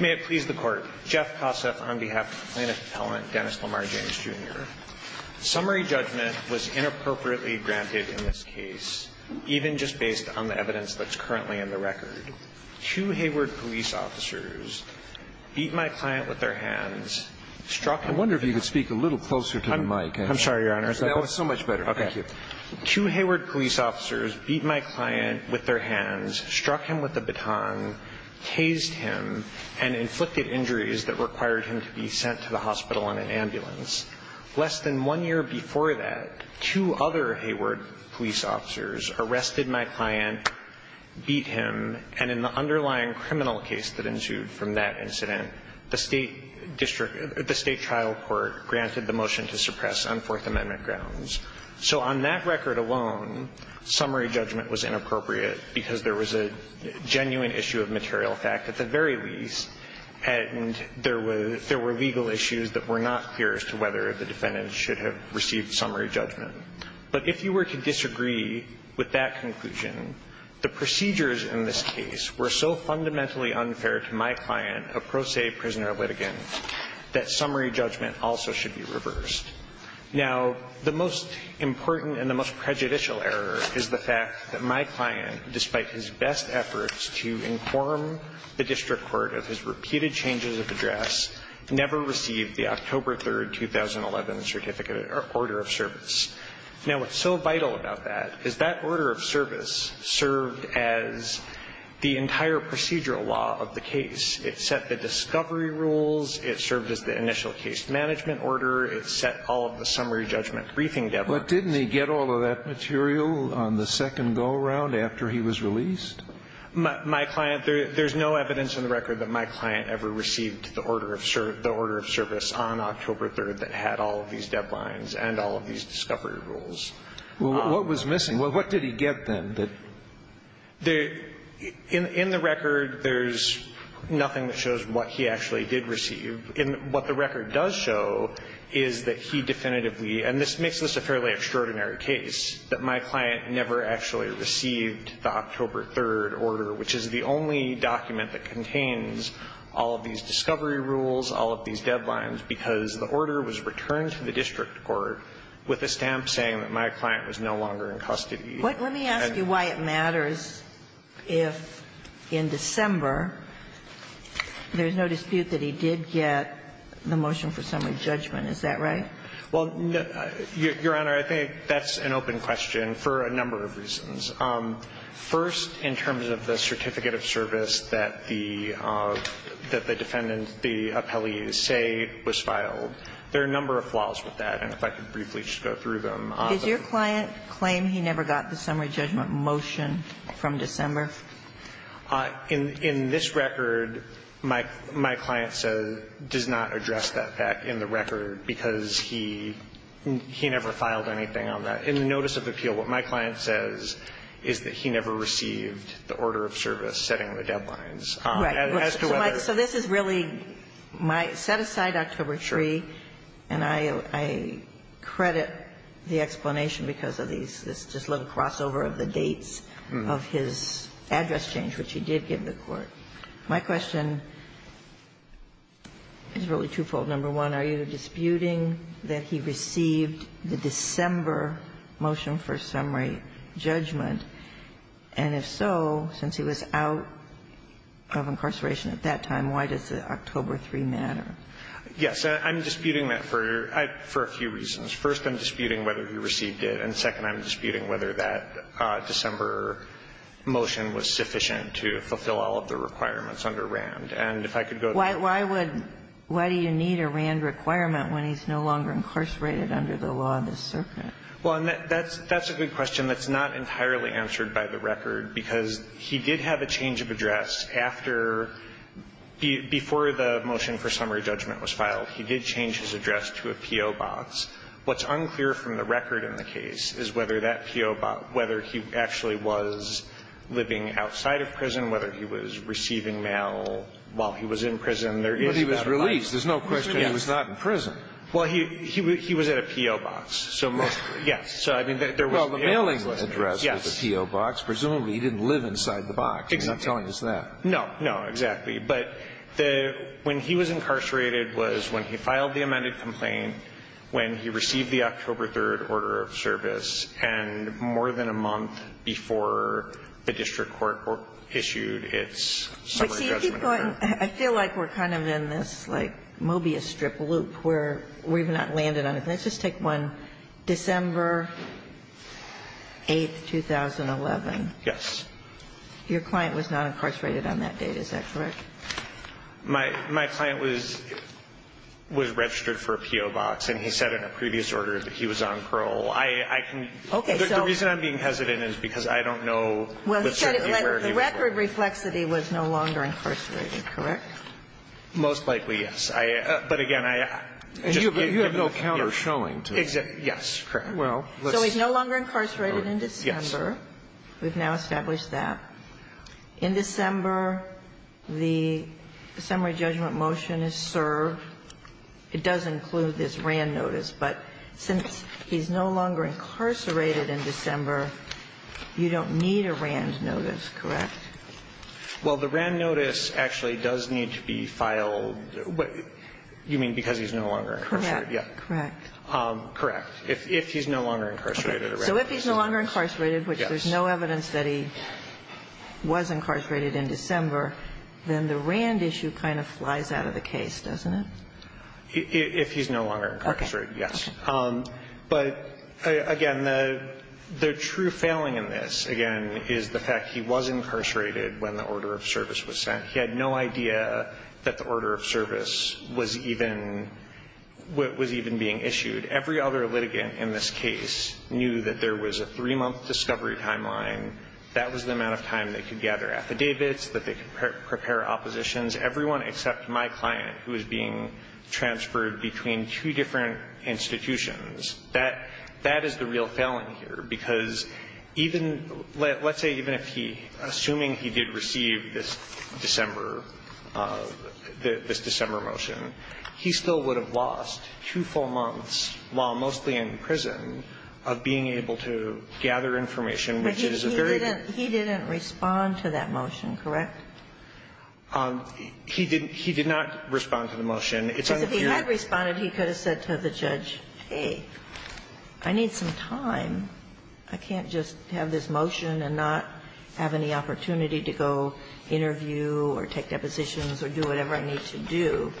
May it please the Court. Jeff Posseff on behalf of the plaintiff's appellant, Dennis Lamar James, Jr. Summary judgment was inappropriately granted in this case, even just based on the evidence that's currently in the record. Two Hayward police officers beat my client with their hands, struck him with a baton, tased him, and struck him with a baton. I wonder if you could speak a little closer to the mic. I'm sorry, Your Honor. That was so much better. Thank you. Two Hayward police officers beat my client with their hands, struck him with a baton, tased him, and inflicted injuries that required him to be sent to the hospital in an ambulance. Less than one year before that, two other Hayward police officers arrested my client, beat him, and in the underlying criminal case that ensued from that incident, the State district – the State trial court granted the motion to suppress on Fourth Amendment grounds. So on that record alone, summary judgment was inappropriate because there was a genuine issue of material fact at the very least, and there was – there were legal issues that were not clear as to whether the defendant should have received summary judgment. But if you were to disagree with that conclusion, the procedures in this case were so fundamentally unfair to my client, a pro se prisoner litigant, that summary judgment also should be reversed. Now, the most important and the most prejudicial error is the fact that my client, despite his best efforts to inform the district court of his repeated changes of address, never received the October 3, 2011 certificate or order of service. Now, what's so vital about that is that order of service served as the entire procedural law of the case. It set the discovery rules. It served as the initial case management order. It set all of the summary judgment briefing deadline. But didn't he get all of that material on the second go-around after he was released? My client – there's no evidence on the record that my client ever received the order of – the discovery rules. Well, what was missing? What did he get, then, that – The – in the record, there's nothing that shows what he actually did receive. And what the record does show is that he definitively – and this makes this a fairly extraordinary case – that my client never actually received the October 3 order, which is the only document that contains all of these discovery rules, all of these I'm saying that my client was no longer in custody. Let me ask you why it matters if, in December, there's no dispute that he did get the motion for summary judgment. Is that right? Well, Your Honor, I think that's an open question for a number of reasons. First, in terms of the certificate of service that the defendant, the appellee say was filed, there are a number of flaws with that. And if I could briefly just go through them. Does your client claim he never got the summary judgment motion from December? In this record, my client says – does not address that fact in the record because he never filed anything on that. In the notice of appeal, what my client says is that he never received the order of service setting the deadlines. As to whether – So this is really my – set aside October 3. Sure. And I credit the explanation because of these – this little crossover of the dates of his address change, which he did give the court. My question is really twofold. Number one, are you disputing that he received the December motion for summary judgment? And if so, since he was out of incarceration at that time, why does the October 3 matter? Yes. I'm disputing that for – for a few reasons. First, I'm disputing whether he received it. And second, I'm disputing whether that December motion was sufficient to fulfill all of the requirements under Rand. And if I could go to – Why would – why do you need a Rand requirement when he's no longer incarcerated under the law of the circuit? Well, that's – that's a good question that's not entirely answered by the record because he did have a change of address after – before the motion for summary judgment was filed. He did change his address to a P.O. box. What's unclear from the record in the case is whether that P.O. box – whether he actually was living outside of prison, whether he was receiving mail while he was in prison. There is that line. But he was released. There's no question he was not in prison. Well, he – he was at a P.O. box, so most – yes. So, I mean, there was – Well, the mailing address was a P.O. box. Yes. Presumably he didn't live inside the box. Exactly. You're not telling us that. No. No, exactly. But the – when he was incarcerated was when he filed the amended complaint, when he received the October 3rd order of service, and more than a month before the district court issued its summary judgment. I feel like we're kind of in this, like, Mobius strip loop where we've not landed on anything. Let's just take one. December 8th, 2011. Yes. Your client was not incarcerated on that date. Is that correct? My – my client was – was registered for a P.O. box, and he said in a previous order that he was on parole. I can – Okay. The reason I'm being hesitant is because I don't know with certainty where he was going. Well, he said the record reflexity was no longer incarcerated. Correct? Most likely, yes. I – but, again, I just – You have no counter showing to that. Yes. Correct. Well, let's see. So he's no longer incarcerated in December. Yes. We've now established that. In December, the summary judgment motion is served. It does include this RAND notice. But since he's no longer incarcerated in December, you don't need a RAND notice, correct? Well, the RAND notice actually does need to be filed. You mean because he's no longer incarcerated? Correct. Correct. If he's no longer incarcerated. Okay. So if he's no longer incarcerated, which there's no evidence that he was incarcerated in December, then the RAND issue kind of flies out of the case, doesn't it? If he's no longer incarcerated, yes. Okay. But, again, the true failing in this, again, is the fact he was incarcerated when the order of service was sent. He had no idea that the order of service was even being issued. Every other litigant in this case knew that there was a three-month discovery timeline. That was the amount of time they could gather affidavits, that they could prepare oppositions. Everyone except my client, who was being transferred between two different institutions, that is the real failing here. Because even, let's say even if he, assuming he did receive this December, this December motion, he still would have lost two full months while mostly in prison of being able to gather information, which is a very. He didn't respond to that motion, correct? He did not respond to the motion. Because if he had responded, he could have said to the judge, hey, I need some time. I can't just have this motion and not have any opportunity to go interview or take depositions or do whatever I need to do.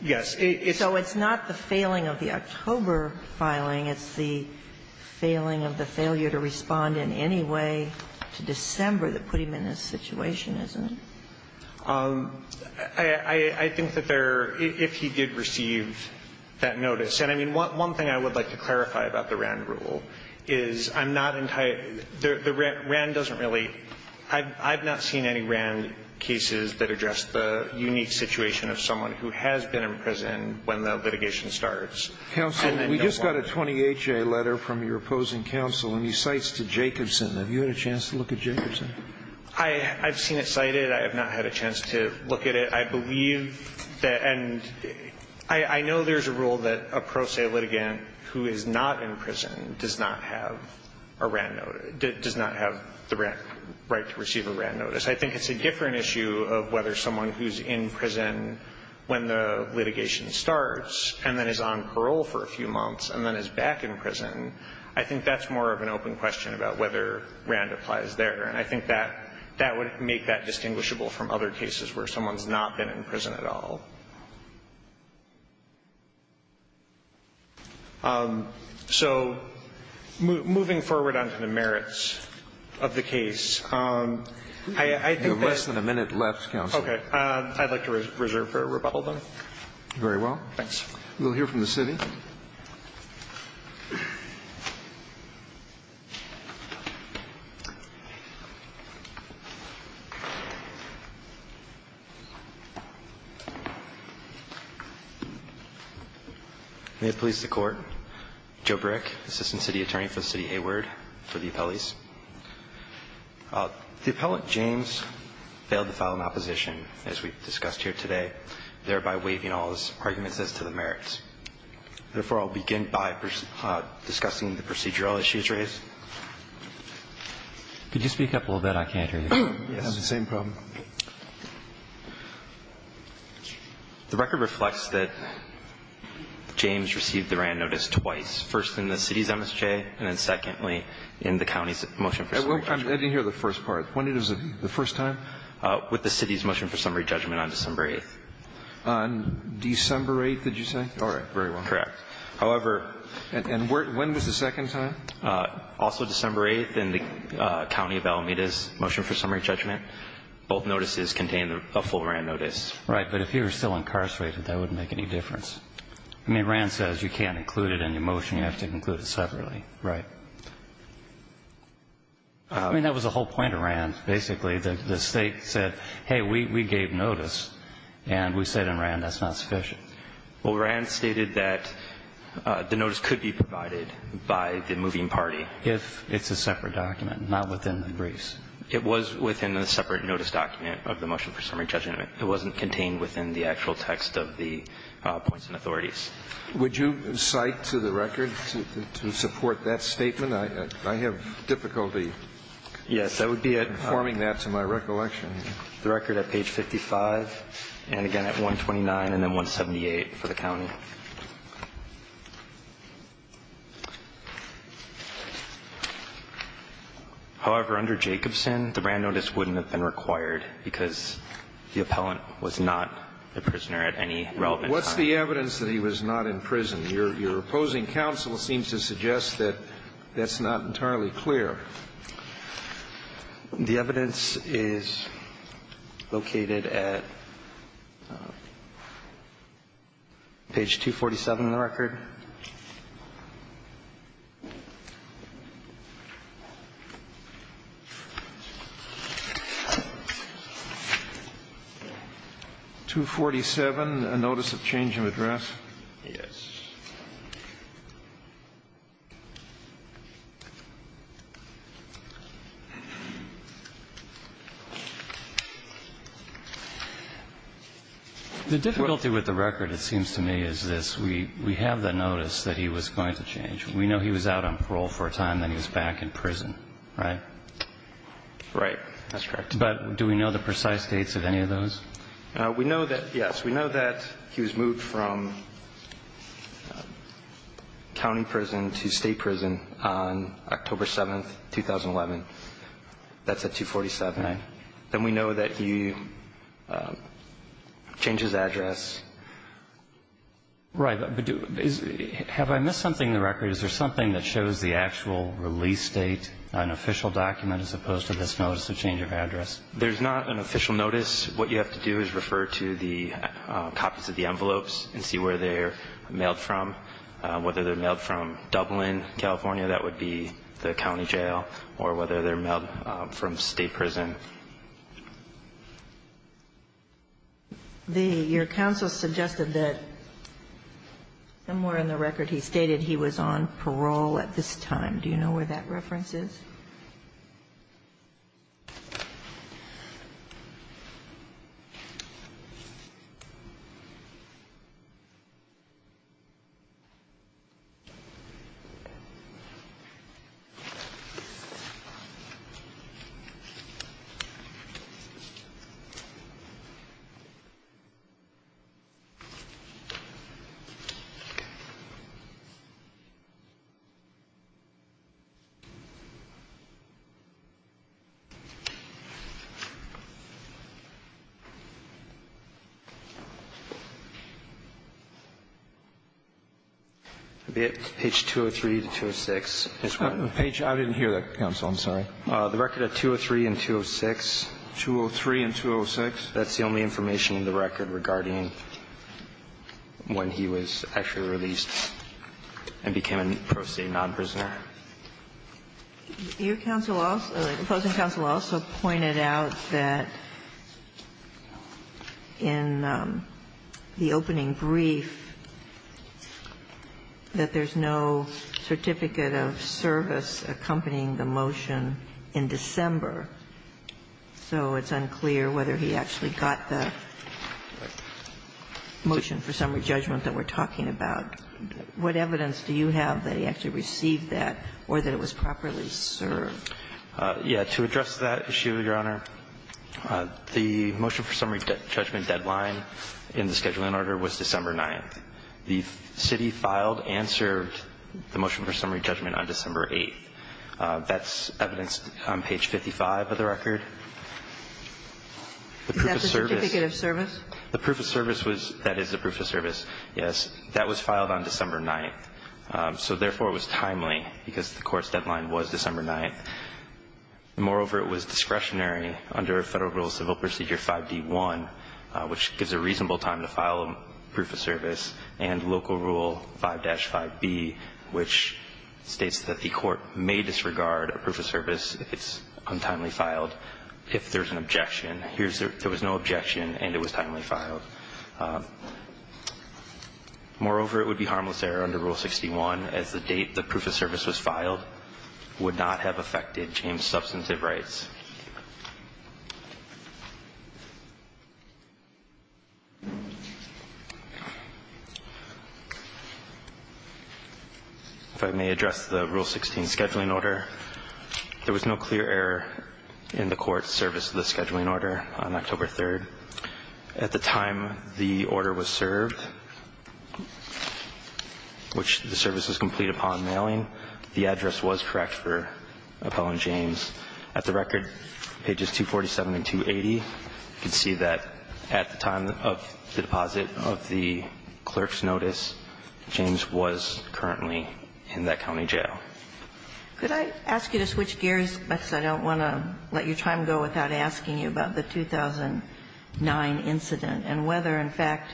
Yes. So it's not the failing of the October filing. It's the failing of the failure to respond in any way to December that put him in this situation, isn't it? I think that there, if he did receive that notice. And I mean, one thing I would like to clarify about the RAND rule is I'm not entirely the RAND doesn't really, I've not seen any RAND cases that address the unique situation of someone who has been in prison when the litigation starts. Counsel, we just got a 28-J letter from your opposing counsel, and he cites to Jacobson. Have you had a chance to look at Jacobson? I've seen it cited. I have not had a chance to look at it. I believe that, and I know there's a rule that a pro se litigant who is not in prison does not have a RAND notice, does not have the right to receive a RAND notice. I think it's a different issue of whether someone who's in prison when the litigation starts and then is on parole for a few months and then is back in prison, I think that's more of an open question about whether RAND applies there. And I think that that would make that distinguishable from other cases where someone's not been in prison at all. So moving forward on to the merits of the case, I think that. You have less than a minute left, counsel. Okay. I'd like to reserve for rebuttal, then. Very well. Thanks. We'll hear from the city. Mr. Jacobson. May it please the Court. Joe Brick, Assistant City Attorney for the City of Hayward, for the appellees. The appellant, James, failed to file an opposition, as we discussed here today, thereby waiving all his arguments as to the merits. Therefore, I'll begin by discussing the procedural issues raised. Could you speak up a little bit? I can't hear you. We have the same problem. The record reflects that James received the RAND notice twice, first in the city's MSJ and then, secondly, in the county's motion for summary judgment. I didn't hear the first part. When was it, the first time? With the city's motion for summary judgment on December 8th. On December 8th, did you say? All right. Very well. Correct. However. And when was the second time? Also December 8th in the county of Alameda's motion for summary judgment. Both notices contained a full RAND notice. Right. But if you were still incarcerated, that wouldn't make any difference. I mean, RAND says you can't include it in your motion. You have to include it separately. Right. I mean, that was the whole point of RAND, basically. The State said, hey, we gave notice, and we said in RAND that's not sufficient. Well, RAND stated that the notice could be provided by the moving party. If it's a separate document, not within the briefs. It was within a separate notice document of the motion for summary judgment. It wasn't contained within the actual text of the points and authorities. Would you cite to the record to support that statement? I have difficulty informing that to my recollection. The record at page 55, and again at 129 and then 178 for the county. However, under Jacobson, the RAND notice wouldn't have been required because the appellant was not a prisoner at any relevant time. What's the evidence that he was not in prison? Your opposing counsel seems to suggest that that's not entirely clear. The evidence is located at page 247 in the record. 247, a notice of change of address. Yes. The difficulty with the record, it seems to me, is this. We have the notice that he was going to change. We know he was out on parole for a time, then he was back in prison, right? Right. That's correct. But do we know the precise dates of any of those? We know that, yes. County prison to state prison on October 7th, 2011. That's at 247. Right. Then we know that he changed his address. Right. Have I missed something in the record? Is there something that shows the actual release date, an official document, as opposed to this notice of change of address? There's not an official notice. What you have to do is refer to the copies of the envelopes and see where they're mailed from. Whether they're mailed from Dublin, California, that would be the county jail, or whether they're mailed from state prison. Your counsel suggested that somewhere in the record he stated he was on parole at this time. Do you know where that reference is? Page 203 to 206. I didn't hear that, counsel. I'm sorry. The record at 203 and 206. 203 and 206? That's the only information in the record regarding when he was actually released and became a pro se non-prisoner. Your counsel also, opposing counsel also pointed out that in the opening brief that there's no certificate of service accompanying the motion in December, so it's unclear whether he actually got the motion for summary judgment that we're talking about. What evidence do you have that he actually received that or that it was properly served? Yeah. To address that issue, Your Honor, the motion for summary judgment deadline in the scheduling order was December 9th. The city filed and served the motion for summary judgment on December 8th. That's evidenced on page 55 of the record. Is that the certificate of service? The proof of service was the proof of service, yes. That was filed on December 9th. So, therefore, it was timely because the court's deadline was December 9th. Moreover, it was discretionary under Federal Rule Civil Procedure 5D1, which gives a reasonable time to file a proof of service, and Local Rule 5-5B, which states that the court may disregard a proof of service if it's untimely filed if there's an objection. There was no objection and it was timely filed. Moreover, it would be harmless error under Rule 61 as the date the proof of service was filed would not have affected James' substantive rights. If I may address the Rule 16 scheduling order, there was no clear error in the court's service to the scheduling order on October 3rd. At the time the order was served, which the service was complete upon mailing, the address was correct for Appellant James. At the record, pages 247 and 280, you can see that at the time of the deposit of the clerk's notice, James was currently in that county jail. Could I ask you to switch gears, because I don't want to let your time go without me asking you about the 2009 incident and whether, in fact,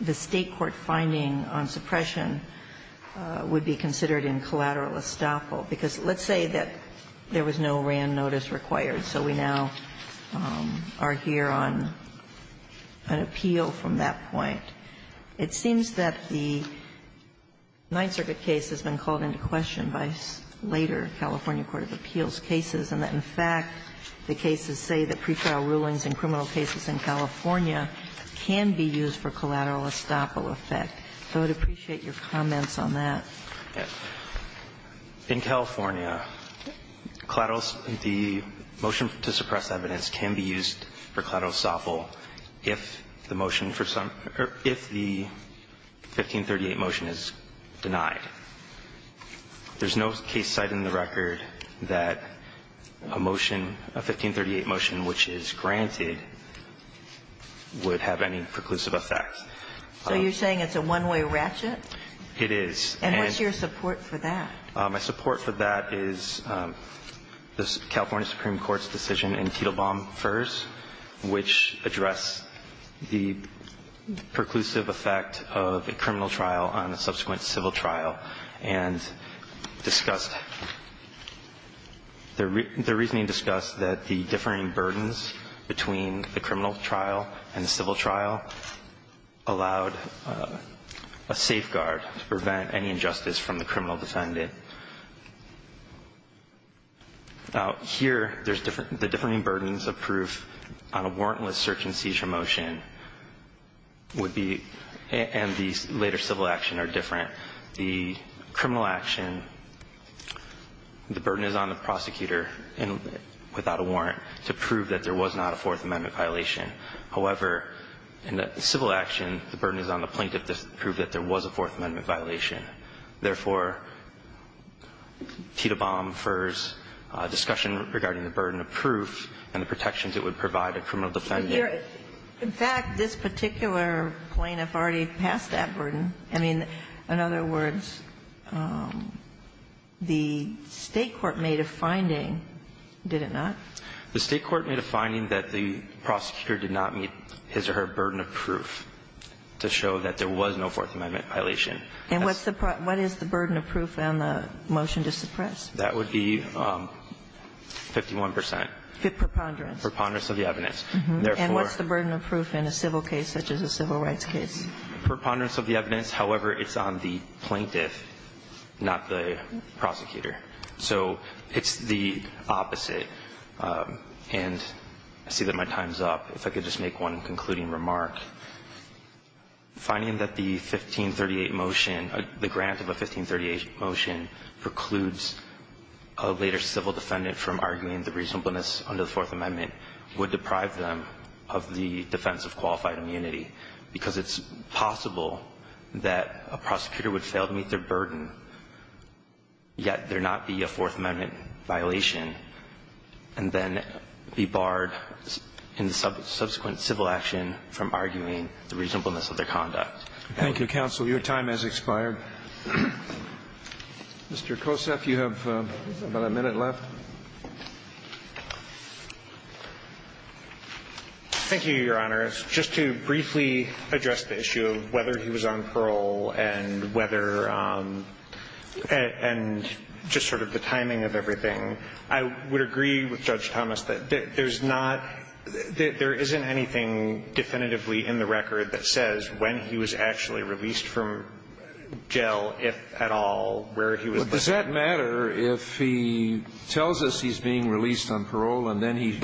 the State court finding on suppression would be considered in collateral estoppel? Because let's say that there was no Wran notice required, so we now are here on an appeal from that point. It seems that the Ninth Circuit case has been called into question by later California court of appeals cases and that, in fact, the cases say that prefile rulings in criminal cases in California can be used for collateral estoppel effect. So I would appreciate your comments on that. In California, the motion to suppress evidence can be used for collateral estoppel if the motion for some or if the 1538 motion is denied. There's no case cited in the record that a motion, a 1538 motion which is granted, would have any preclusive effect. So you're saying it's a one-way ratchet? It is. And what's your support for that? My support for that is the California Supreme Court's decision in Tittlebaum 1st, which addressed the preclusive effect of a criminal trial on a subsequent civil trial and discussed the reasoning discussed that the differing burdens between the criminal trial and the civil trial allowed a safeguard to prevent any injustice from the criminal defendant. Now, here, the differing burdens of proof on a warrantless search-and-seizure motion would be, and the later civil action are different. The criminal action, the burden is on the prosecutor without a warrant to prove that there was not a Fourth Amendment violation. However, in the civil action, the burden is on the plaintiff to prove that there was a Fourth Amendment violation. Therefore, Tittlebaum 1st's discussion regarding the burden of proof and the protections it would provide a criminal defendant. In fact, this particular plaintiff already passed that burden. I mean, in other words, the State court made a finding, did it not? The State court made a finding that the prosecutor did not meet his or her burden of proof to show that there was no Fourth Amendment violation. And what is the burden of proof on the motion to suppress? That would be 51 percent. Preponderance. Preponderance of the evidence. And what's the burden of proof in a civil case such as a civil rights case? Preponderance of the evidence. However, it's on the plaintiff, not the prosecutor. So it's the opposite. And I see that my time is up. If I could just make one concluding remark. Finding that the 1538 motion, the grant of a 1538 motion precludes a later civil defendant from arguing the reasonableness under the Fourth Amendment would deprive them of the defense of qualified immunity, because it's possible that a prosecutor would fail to meet their burden, yet there not be a Fourth Amendment violation, and then be barred in the subsequent civil action from arguing the reasonableness of their conduct. Thank you. Thank you, counsel. Your time has expired. Mr. Koseff, you have about a minute left. Thank you, Your Honors. Just to briefly address the issue of whether he was on parole and whether and just sort of the timing of everything, I would agree with Judge Thomas that there's not – there isn't anything definitively in the record that says when he was actually released from jail, if at all, where he was released. Well, does that matter if he tells us he's being released on parole and then he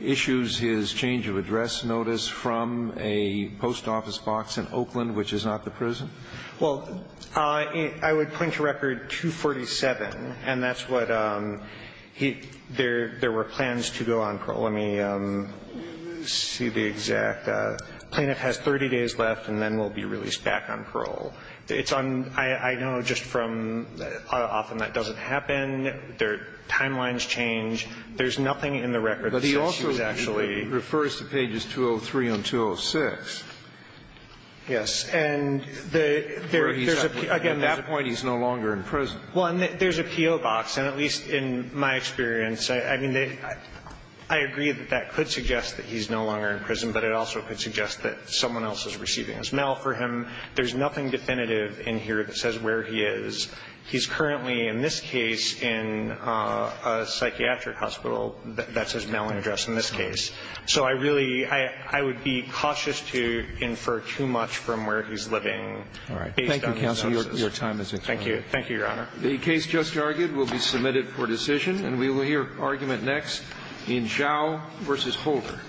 issues his change of address notice from a post office box in Oakland, which is not the prison? Well, I would point to Record 247, and that's what he – there were plans to go on parole. Let me see the exact – plaintiff has 30 days left and then will be released back on parole. It's on – I know just from – often that doesn't happen. Their timelines change. There's nothing in the record that says he was actually – But he also refers to pages 203 and 206. Yes. And the – there's a – again, there's a – At that point, he's no longer in prison. Well, and there's a PO box. And at least in my experience, I mean, I agree that that could suggest that he's no longer in prison, but it also could suggest that someone else is receiving his mail for him. There's nothing definitive in here that says where he is. He's currently, in this case, in a psychiatric hospital. That's his mailing address in this case. So I really – I would be cautious to infer too much from where he's living based on his notices. All right. Thank you, counsel. Your time is expired. Thank you. Thank you, Your Honor. The case just argued will be submitted for decision, and we will hear argument next in Zhao v. Holder.